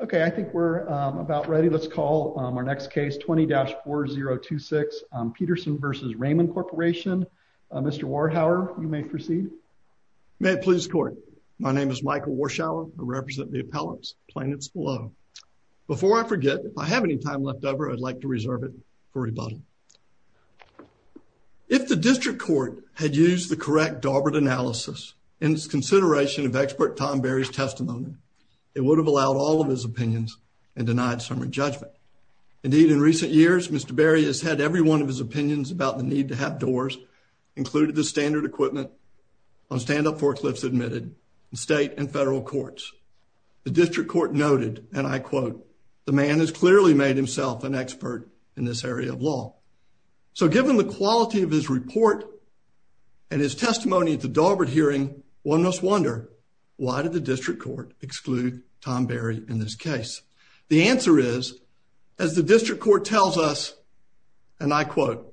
Okay, I think we're about ready. Let's call our next case 20-4026, Peterson v. Raymond Corporation. Mr. Warhower, you may proceed. May it please the court. My name is Michael Warshower. I represent the appellants, plaintiffs below. Before I forget, if I have any time left over, I'd like to reserve it for rebuttal. If the district court had used the correct Darbert analysis in its consideration of expert Tom Berry's testimony, it would have allowed all of his opinions and denied some re-judgment. Indeed, in recent years, Mr. Berry has had every one of his opinions about the need to have doors included the standard equipment on stand-up forklifts admitted in state and federal courts. The district court noted, and I quote, the man has clearly made himself an expert in this area of law. So given the quality of his report and his testimony at the Darbert hearing, one must wonder why did the district court exclude Tom Berry in this case? The answer is, as the district court tells us, and I quote,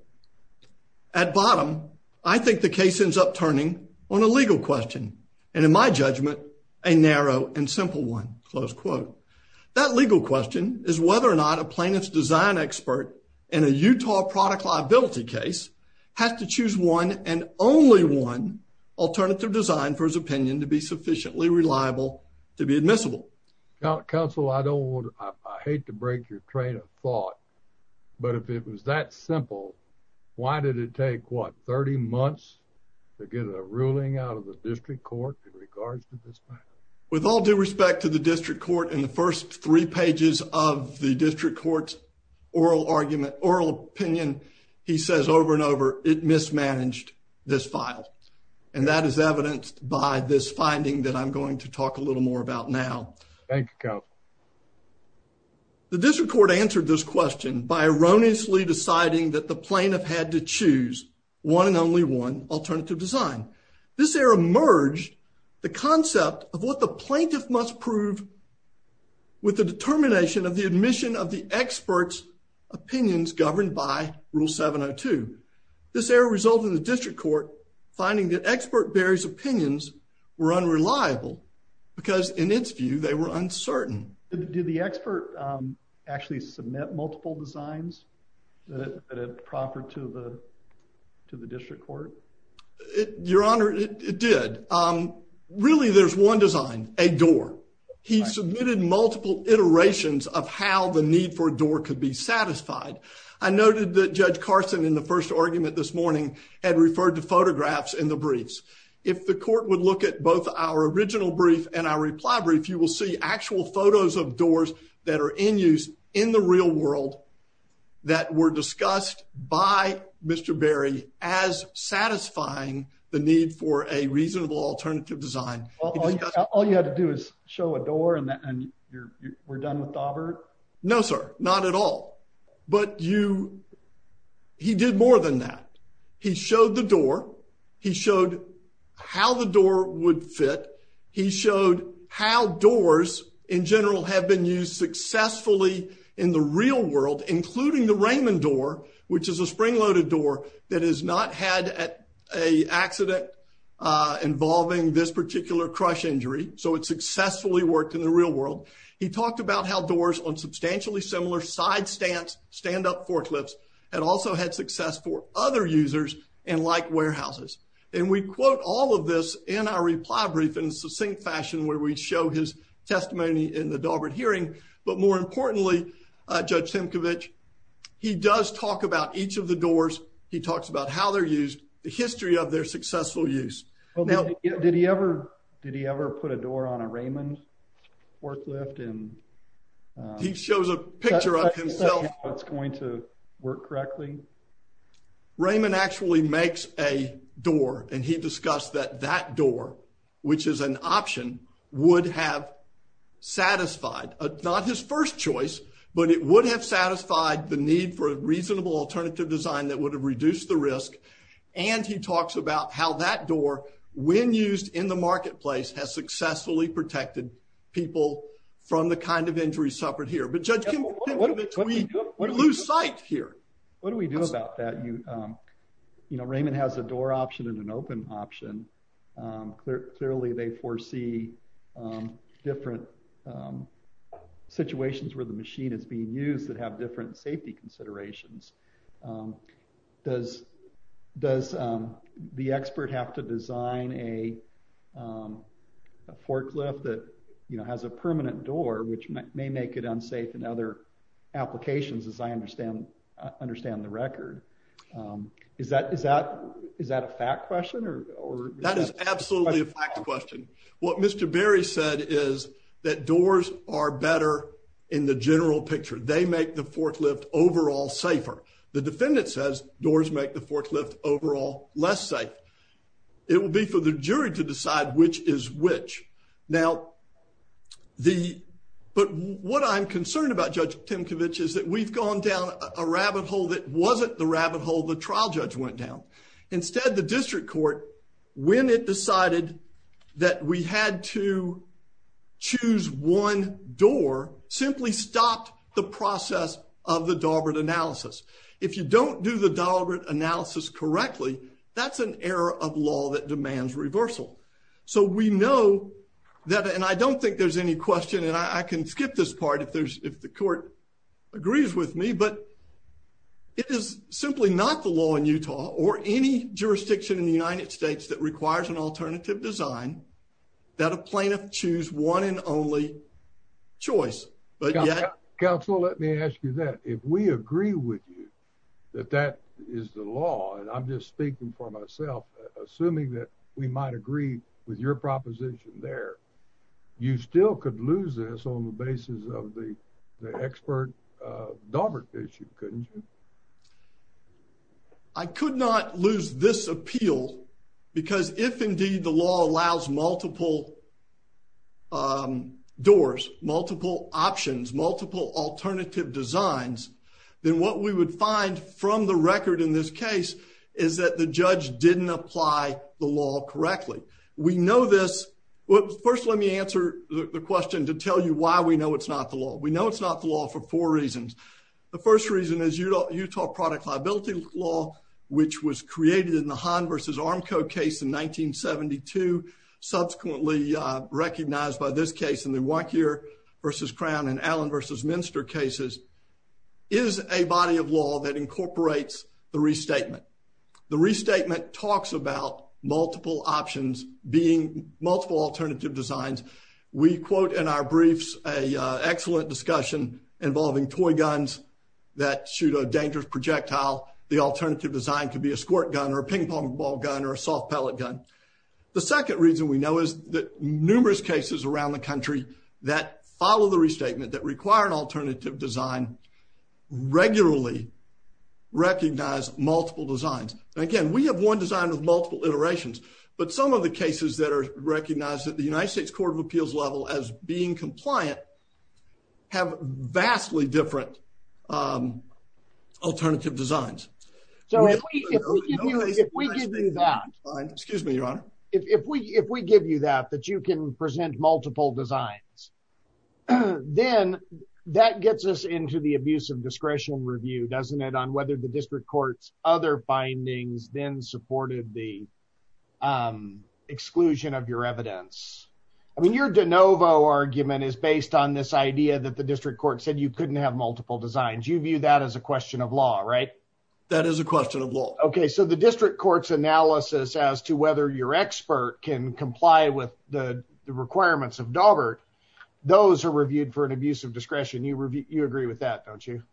at bottom, I think the case ends up turning on a legal question. And in my judgment, a narrow and simple one, close quote. That legal question is whether or not a plaintiff's design expert in a Utah product liability case has to choose one and only one alternative design for his opinion to be sufficiently reliable to be admissible. Counsel, I hate to break your train of thought, but if it was that simple, why did it take, what, 30 months to get a ruling out of the district court in regards to this matter? With all due respect to the district court, in the first three pages of the district court's oral argument, oral opinion, he says over and over, it mismanaged this file. And that is evidenced by this finding that I'm going to talk a little more about now. Thank you, Counsel. The district court answered this question by erroneously deciding that the plaintiff had to choose one and only one alternative design. This error merged the concept of what the plaintiff must prove with the determination of the admission of the expert's opinions governed by Rule 702. This error resulted in the district court finding that expert Barry's opinions were unreliable because in its view, they were uncertain. Did the expert actually submit multiple designs that it proffered to the district court? Your Honor, it did. Really, there's one design, a door. He submitted multiple iterations of how the need for a door could be satisfied. I noted that Judge Carson, in the first argument this morning, had referred to photographs in the briefs. If the court would look at both our original brief and our reply brief, you will see actual photos of doors that are in use in the real world that were discussed by Mr. Barry as satisfying the need for a reasonable alternative design. All you had to do is show a door and we're done with Daubert? No, sir. Not at all. He did more than that. He showed the door. He showed how the door would fit. He showed how doors, in general, have been used successfully in the real world, including the Raymond door, which is a spring-loaded door that has not had an accident involving this particular crush injury, so it successfully worked in the real world. He talked about how doors on substantially similar side stands, stand-up forklifts, had also had success for other users and like warehouses. We quote all of this in our reply brief in a succinct fashion where we show his testimony in the Daubert hearing, but more importantly, Judge Simcovich, he does talk about each of the doors. He talks about how they're successful use. Did he ever put a door on a Raymond forklift? He shows a picture of himself. Raymond actually makes a door and he discussed that that door, which is an option, would have satisfied, not his first choice, but it would have satisfied the need for a reasonable alternative design that would have reduced the risk, and he talks about how that door, when used in the marketplace, has successfully protected people from the kind of injuries suffered here, but Judge Simcovich, we lose sight here. What do we do about that? You know, Raymond has a door option and an open option. Clearly, they foresee different situations where the machine is being used that have different safety considerations. Does the expert have to design a forklift that, you know, has a permanent door, which may make it unsafe in other applications, as I understand the record? Is that a fact question? That is absolutely a fact question. What Mr. Berry said is that doors are better in the general picture. They make the forklift overall safer. The defendant says doors make the forklift overall less safe. It will be for the jury to decide which is which. Now, what I'm concerned about, Judge Simcovich, is that we've gone down a rabbit hole that wasn't the rabbit hole the trial judge went down. Instead, the district decided that we had to choose one door simply stopped the process of the Daubert analysis. If you don't do the Daubert analysis correctly, that's an error of law that demands reversal. So we know that, and I don't think there's any question, and I can skip this part if the court agrees with me, but it is simply not the law in Utah or any jurisdiction in the United States that requires an alternative design that a plaintiff choose one and only choice. Counsel, let me ask you that. If we agree with you that that is the law, and I'm just speaking for myself, assuming that we might agree with your proposition there, you still could lose this on because if indeed the law allows multiple doors, multiple options, multiple alternative designs, then what we would find from the record in this case is that the judge didn't apply the law correctly. We know this. First, let me answer the question to tell you why we know it's not the law. We know it's not the law for four reasons. The first reason is Utah product liability law, which was created in the Hahn v. Armco case in 1972, subsequently recognized by this case in the Wankhier v. Crown and Allen v. Minster cases, is a body of law that incorporates the restatement. The restatement talks about multiple options being multiple alternative designs. We quote in our briefs an excellent discussion involving toy guns that shoot a the alternative design could be a squirt gun or a ping pong ball gun or a soft pellet gun. The second reason we know is that numerous cases around the country that follow the restatement that require an alternative design regularly recognize multiple designs. Again, we have one design with multiple iterations, but some of the cases that are recognized at the United States um alternative designs. So if we give you that, excuse me your honor, if we if we give you that that you can present multiple designs then that gets us into the abuse of discretion review doesn't it on whether the district court's other findings then supported the um exclusion of your evidence. I mean your de novo argument is based on this idea that the district court said you couldn't have multiple designs you view that as a question of law right? That is a question of law. Okay so the district court's analysis as to whether your expert can comply with the requirements of Daubert those are reviewed for an abuse of discretion you review you agree with that don't you?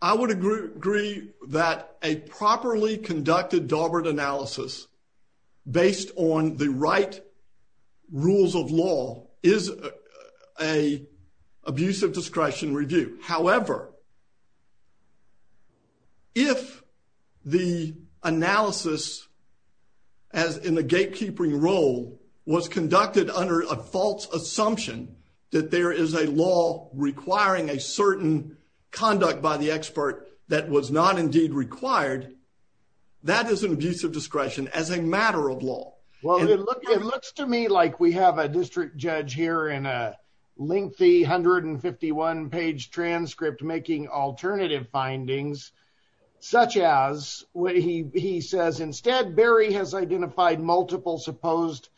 I would agree that a properly conducted Daubert analysis based on the right rules of law is a abuse of discretion review. However, if the analysis as in the gatekeeping role was conducted under a false assumption that there is a law requiring a certain conduct by the expert that was not indeed required that is an abuse of discretion as a matter of law. Well it looks to me like we have a district judge here in a lengthy 151 page transcript making alternative findings such as when he he says instead Barry has identified multiple supposed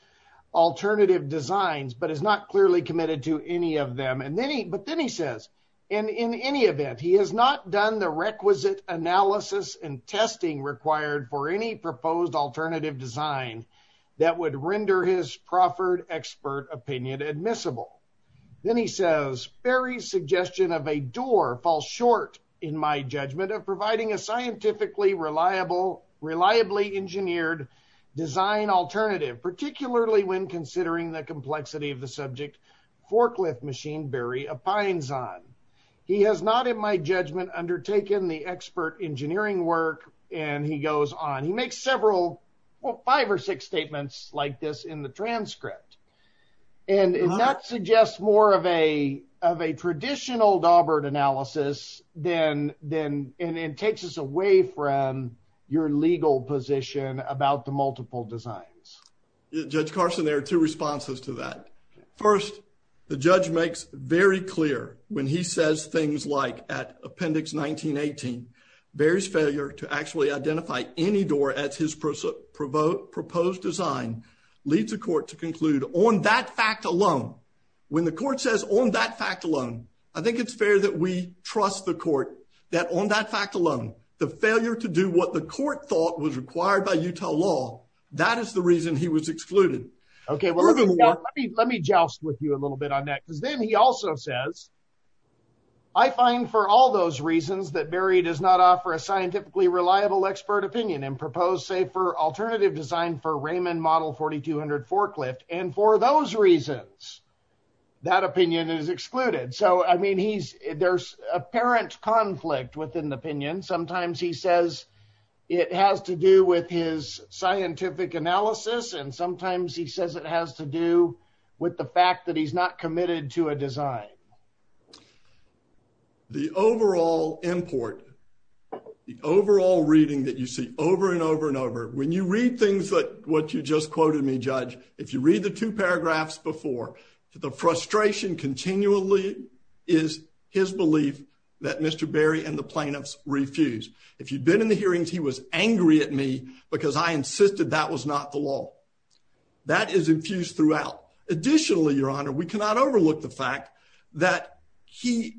alternative designs but is not clearly committed to any of them and then he but then he says and in any event he has not done the requisite analysis and testing required for any proposed alternative design that would render his proffered expert opinion admissible. Then he says Barry's suggestion of a door falls short in my judgment of providing a scientifically reliable reliably engineered design alternative particularly when considering the complexity of the subject forklift machine Barry opines on. He has not in my judgment undertaken the expert engineering work and he goes on he makes several well five or six statements like this in the transcript and that suggests more of a of a traditional Daubert analysis than then and it takes us away from your legal position about the multiple designs. Judge Carson there are two responses to that. First the judge makes very clear when he says things like at appendix 1918 Barry's failure to actually identify any door at his proposed design leads the court to conclude on that fact alone when the court says on that fact alone I think it's fair that we trust the court that on that fact alone the failure to do what the court thought was required by Utah law that is the reason he was excluded. Okay well let me joust with you a little bit on that because then he also says I find for all those reasons that Barry does not offer a scientifically reliable expert opinion and propose say for alternative design for Raymond model 4200 forklift and for those reasons that opinion is excluded. So I mean he's there's apparent conflict within the opinion sometimes he says it has to do with his scientific analysis and sometimes he says it has to do with the fact that he's not committed to a design. The overall import the overall reading that you see over and over and over when you read things like what you just quoted me judge if you read the two paragraphs before the frustration continually is his belief that Mr. Barry and the plaintiffs refused. If you've been in the hearings he was angry at me because I insisted that was not the law. That is infused throughout. Additionally your honor we cannot overlook the fact that he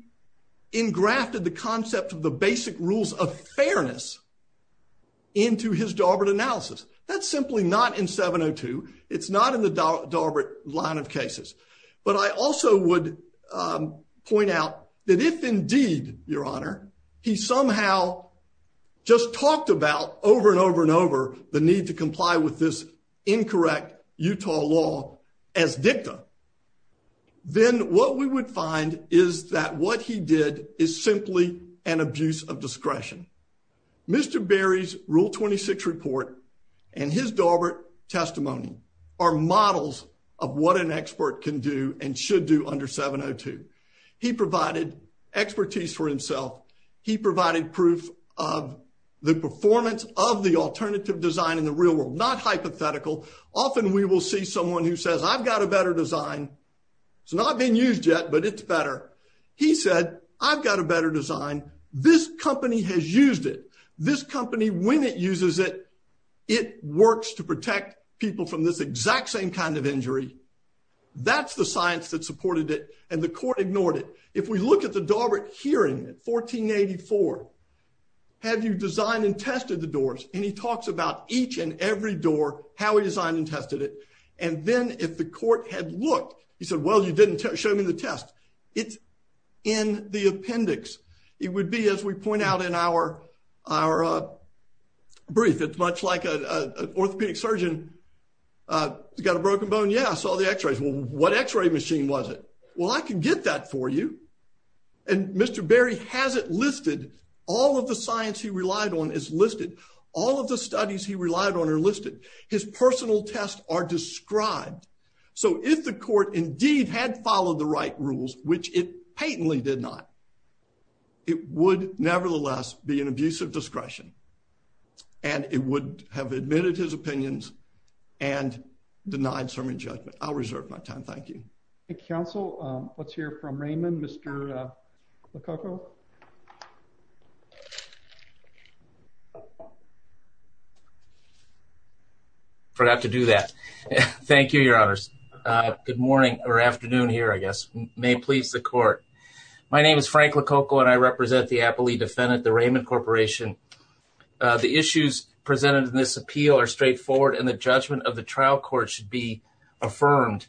engrafted the concept of the basic rules of fairness into his Darbert analysis. That's simply not in 702. It's not in the Darbert line of cases but I also would point out that if indeed your honor he somehow just talked about over and over and over the need to comply with this incorrect Utah law as dicta then what we would find is that what he did is simply an abuse of discretion. Mr. Barry's rule 26 report and his Darbert testimony are models of what an expert can do and should do under 702. He provided expertise for himself. He provided proof of the performance of the alternative design in the real world. Not hypothetical. Often we will see someone who says I've got a better design. It's not being used yet but it's better. He said I've got a better design. This company has used it. This company when it exact same kind of injury that's the science that supported it and the court ignored it. If we look at the Darbert hearing in 1484 have you designed and tested the doors and he talks about each and every door how he designed and tested it and then if the court had looked he said well you didn't show me the test. It's in the appendix. It would be as we point out in our our uh brief it's much like a orthopedic surgeon uh got a broken bone yeah I saw the x-rays well what x-ray machine was it well I can get that for you and Mr. Barry has it listed all of the science he relied on is listed all of the studies he relied on are listed his personal tests are described so if the court indeed had followed the right rules which it patently did not it would nevertheless be an indecisive discretion and it would have admitted his opinions and denied some injunctment I'll reserve my time thank you council um let's hear from Raymond Mr. Lacoco forgot to do that thank you your honors uh good morning or afternoon here I guess may please the the issues presented in this appeal are straightforward and the judgment of the trial court should be affirmed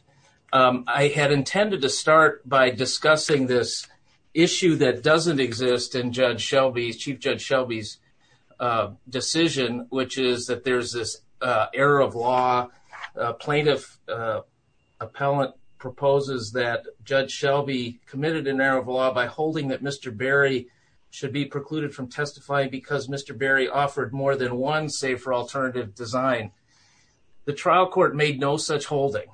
um I had intended to start by discussing this issue that doesn't exist in Judge Shelby's Chief Judge Shelby's uh decision which is that there's this uh error of law plaintiff uh appellant proposes that Judge Shelby committed an error by holding that Mr. Barry should be precluded from testifying because Mr. Barry offered more than one safer alternative design the trial court made no such holding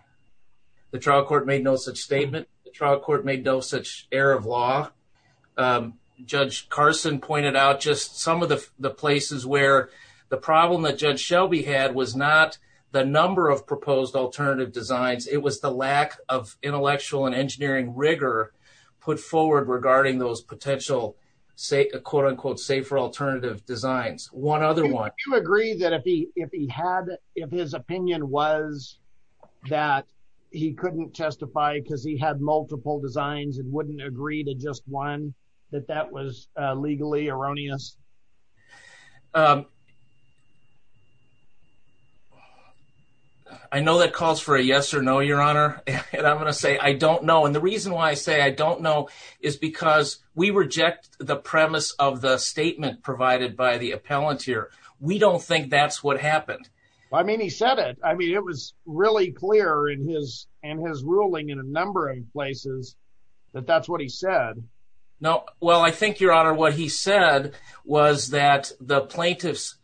the trial court made no such statement the trial court made no such error of law um Judge Carson pointed out just some of the the places where the problem that Judge Shelby had was not the number of proposed alternative designs it was the lack of intellectual and engineering rigor put forward regarding those potential say a quote unquote safer alternative designs one other one you agree that if he if he had if his opinion was that he couldn't testify because he had multiple designs and wouldn't agree to just one that that was uh legally erroneous um I know that calls for a yes or no your honor and I'm gonna say I don't know and the reason why I say I don't know is because we reject the premise of the statement provided by the appellant here we don't think that's what happened I mean he said it I mean it was really clear in his and his ruling in a number of places that that's what he said no well I think your honor what he said was that the plaintiffs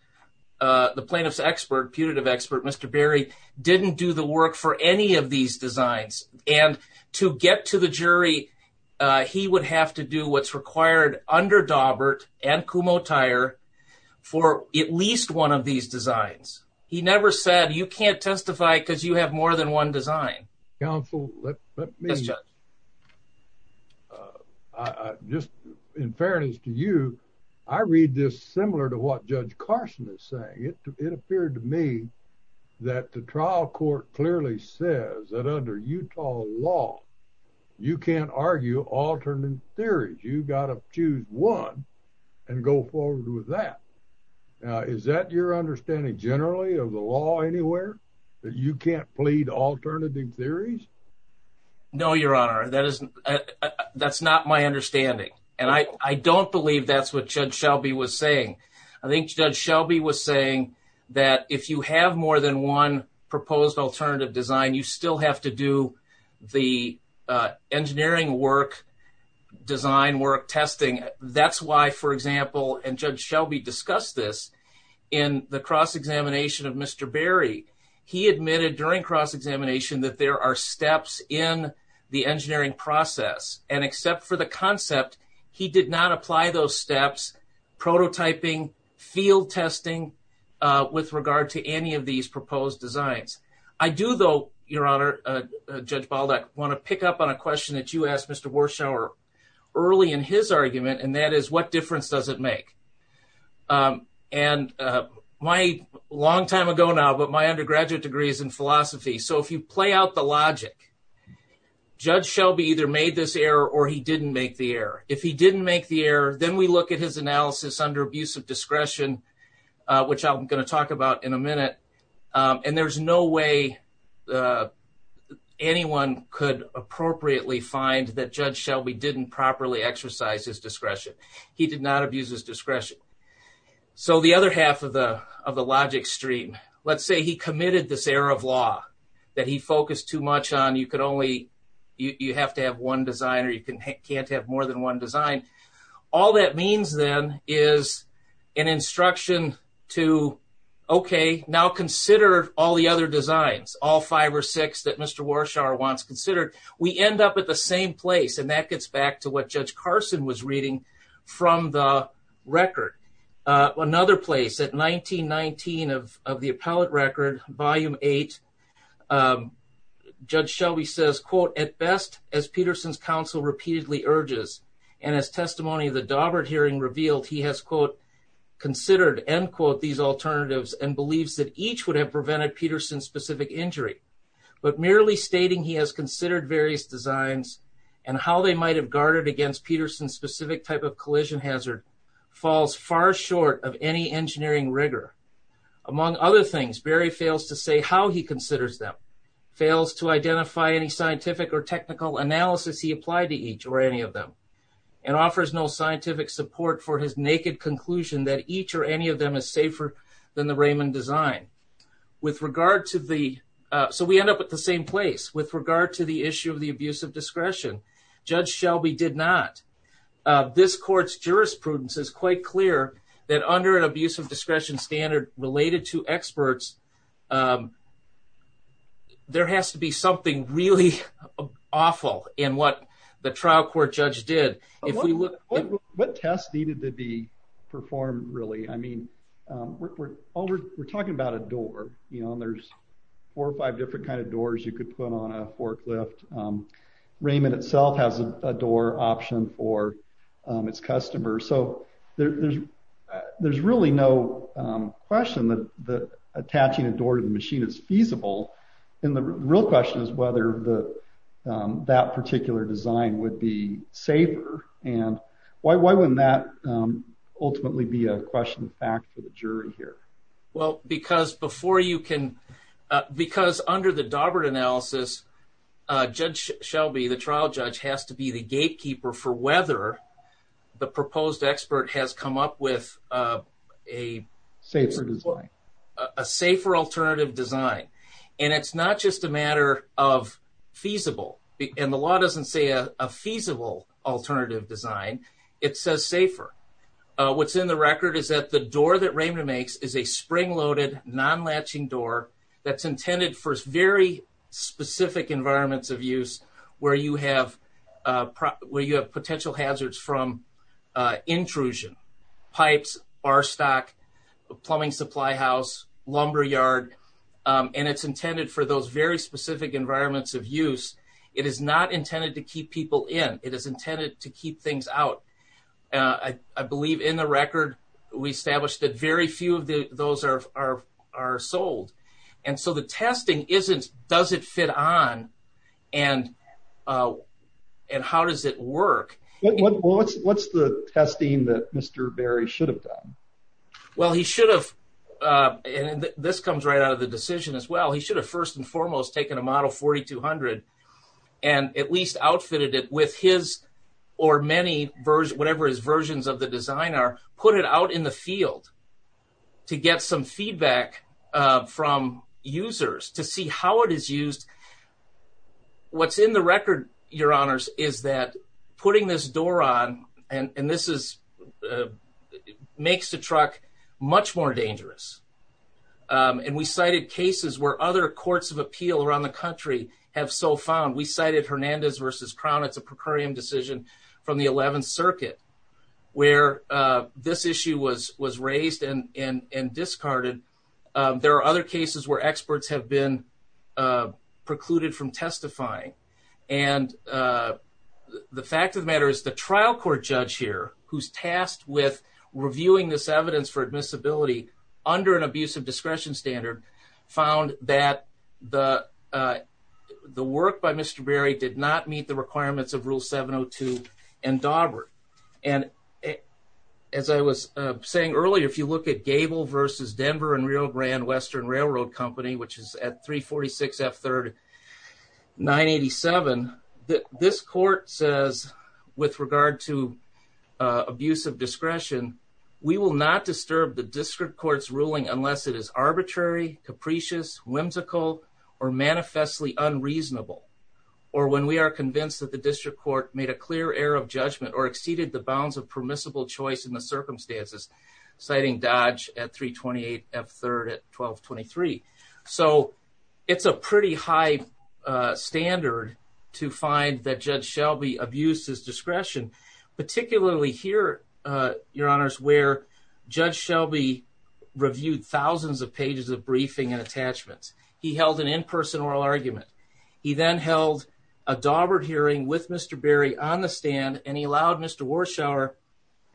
uh the plaintiff's expert putative expert Mr. Barry didn't do the work for any of these designs and to get to the jury uh he would have to do what's required under Dawbert and Kumo Tire for at least one of these designs he never said you can't testify because you have more than one design counsel let me just uh just in fairness to you I read this similar to what Judge Carson is saying it it appeared to me that the trial court clearly says that under Utah law you can't argue alternate theories you gotta choose one and go forward with that now is that your understanding generally of the law anywhere that you can't plead alternative theories no your honor that isn't that's not my understanding and I I don't believe that's what Judge Shelby was saying I think Judge Shelby was saying that if you have more than one proposed alternative design you still have to do the uh engineering work design testing that's why for example and Judge Shelby discussed this in the cross-examination of Mr. Barry he admitted during cross-examination that there are steps in the engineering process and except for the concept he did not apply those steps prototyping field testing uh with regard to any of these proposed designs I do though your honor Judge Baldock want to pick up on a question that you asked Mr. Warshower early in his argument and that is what difference does it make and my long time ago now but my undergraduate degree is in philosophy so if you play out the logic Judge Shelby either made this error or he didn't make the error if he didn't make the error then we look at his analysis under abuse of discretion which I'm going to talk about in a that Judge Shelby didn't properly exercise his discretion he did not abuse his discretion so the other half of the of the logic stream let's say he committed this error of law that he focused too much on you could only you you have to have one design or you can't have more than one design all that means then is an instruction to okay now consider all the other designs all Mr. Warshower wants considered we end up at the same place and that gets back to what Judge Carson was reading from the record another place at 1919 of of the appellate record volume eight Judge Shelby says quote at best as Peterson's counsel repeatedly urges and as testimony of the Daubert hearing revealed he has quote considered end quote these alternatives and that each would have prevented Peterson specific injury but merely stating he has considered various designs and how they might have guarded against Peterson specific type of collision hazard falls far short of any engineering rigor among other things Barry fails to say how he considers them fails to identify any scientific or technical analysis he applied to each or any of them and offers no scientific support for his naked conclusion that each or any of them is safer than the Raymond design with regard to the so we end up at the same place with regard to the issue of the abuse of discretion Judge Shelby did not this court's jurisprudence is quite clear that under an abuse of discretion standard related to experts there has to be something really awful in what the trial court judge did if we look what test needed to be performed really I mean we're all we're talking about a door you know there's four or five different kind of doors you could put on a forklift Raymond itself has a door option for its customers so there's there's really no question that the attaching a door to the machine is feasible and the real question is whether the that particular design would be safer and why why wouldn't that ultimately be a question of fact for the jury here well because before you can because under the Daubert analysis Judge Shelby the trial judge has to be the gatekeeper for whether the proposed expert has come up with a safer design a safer alternative design and it's not just a matter of feasible and the law doesn't say a feasible alternative design it says safer what's in the record is that the door that Raymond makes is a spring-loaded non-latching door that's intended for very specific environments of use where you have where you have potential hazards from intrusion pipes bar stock plumbing supply house lumber yard and it's intended for those very specific environments of use it is not intended to keep people in it is intended to keep things out I believe in the record we established that very few of the those are are are sold and so the testing isn't does it fit on and and how does it work what's what's the testing that Mr. Berry should have done well he should have and this comes right out of the decision as well he should have first and foremost taken a model 4200 and at least outfitted it with his or many version whatever his versions of the design are put it out in the field to get some feedback from users to see how it is used what's in the record your honors is that putting this door on and and this is makes the truck much more dangerous and we cited cases where other courts of appeal around the country have so found we cited Hernandez versus Crown it's a precarium decision from the 11th circuit where this issue was was raised and and and discarded there are other cases where experts have been precluded from testifying and the fact of the the trial court judge here who's tasked with reviewing this evidence for admissibility under an abuse of discretion standard found that the the work by Mr. Berry did not meet the requirements of rule 702 and Daubert and as I was saying earlier if you look at Gable versus Denver and Rio Grande Western Railroad Company which is at 346 F third 987 that this says with regard to abuse of discretion we will not disturb the district court's ruling unless it is arbitrary capricious whimsical or manifestly unreasonable or when we are convinced that the district court made a clear error of judgment or exceeded the bounds of permissible choice in the circumstances citing Dodge at 328 F third at 1223 so it's a pretty high standard to find that Judge Shelby abused his discretion particularly here your honors where Judge Shelby reviewed thousands of pages of briefing and attachments he held an in-person oral argument he then held a Daubert hearing with Mr. Berry on the stand and he allowed Mr. Warshower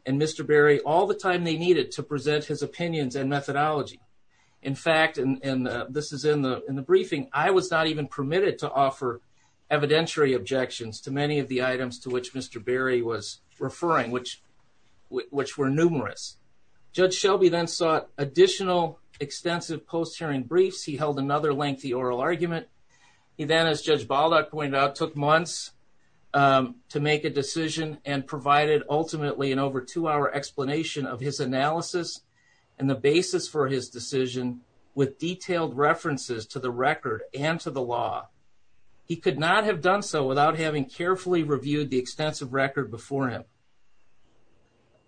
and Mr. Berry all the time they needed to present his opinions and methodology in fact and this is in the in the briefing I was not even permitted to offer evidentiary objections to many of the items to which Mr. Berry was referring which which were numerous Judge Shelby then sought additional extensive post-hearing briefs he held another lengthy oral argument he then as Judge Baldock pointed out took months to make a decision and provided ultimately an over two hour explanation of his analysis and the basis for his decision with detailed references to the record and to the law he could not have done so without having carefully reviewed the extensive record before him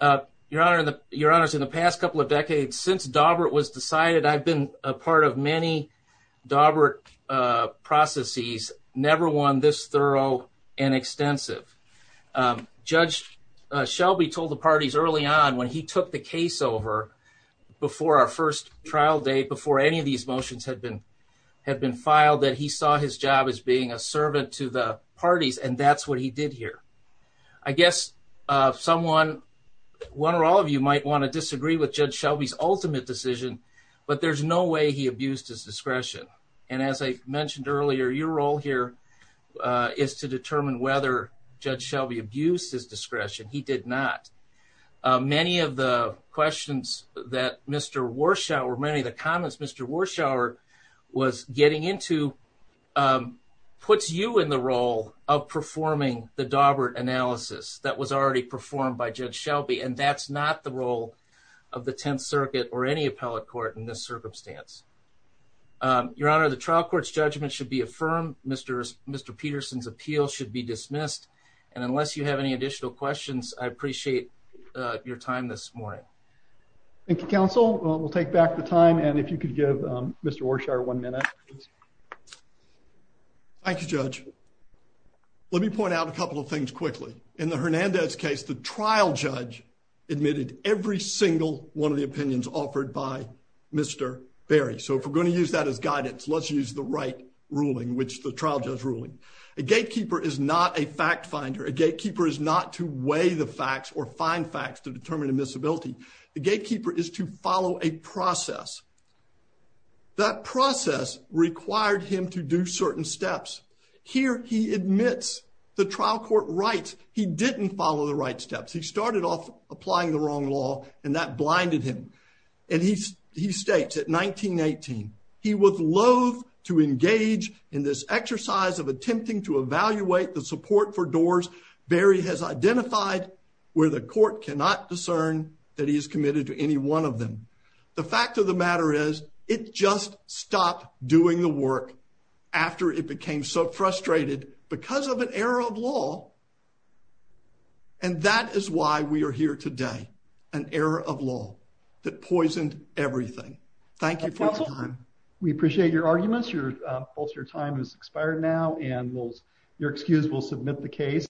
uh your honor the your honors in the past couple of decades since Daubert was decided I've been a part of many Daubert uh processes never won this thorough and extensive um Judge Shelby told the parties early on when he took the case over before our first trial day before any of these motions had been had been filed that he saw his job as being a servant to the parties and that's what he did here I guess uh someone one or all of you might want to disagree with Judge Shelby's ultimate decision but there's no way he abused his discretion and as I mentioned earlier your role here is to determine whether Judge Shelby abused his discretion he did not many of the questions that Mr. Warshower many of the comments Mr. Warshower was getting into puts you in the role of performing the Daubert analysis that was already performed by Judge Shelby and that's not the role of the 10th circuit or any appellate court in this circumstance um your honor the trial court's judgment should be affirmed Mr. Peterson's appeal should be dismissed and unless you have any additional questions I appreciate uh your time this morning thank you counsel we'll take back the time and if you could give um Mr. Warshower one minute thank you judge let me point out a couple of things quickly in the Hernandez case the trial judge admitted every single one of the opinions offered by Mr. Berry so if we're going to use that as guidance let's use the right ruling which the trial judge ruling a gatekeeper is not a fact finder a gatekeeper is not to weigh the facts or find facts to determine admissibility the gatekeeper is to follow a process that process required him to do certain steps here he admits the trial court writes he didn't follow the right steps he started off applying the wrong law and that blinded him and he's he states at 1918 he was loathe to engage in this exercise of attempting to evaluate the support for doors berry has identified where the court cannot discern that he is committed to any one of them the fact of the matter is it just stopped doing the work after it became so frustrated because of an error of law and that is why we are here today an error of law that poisoned everything thank you for your time we appreciate your arguments your uh pulse your time has expired now and we'll your excuse we'll submit the case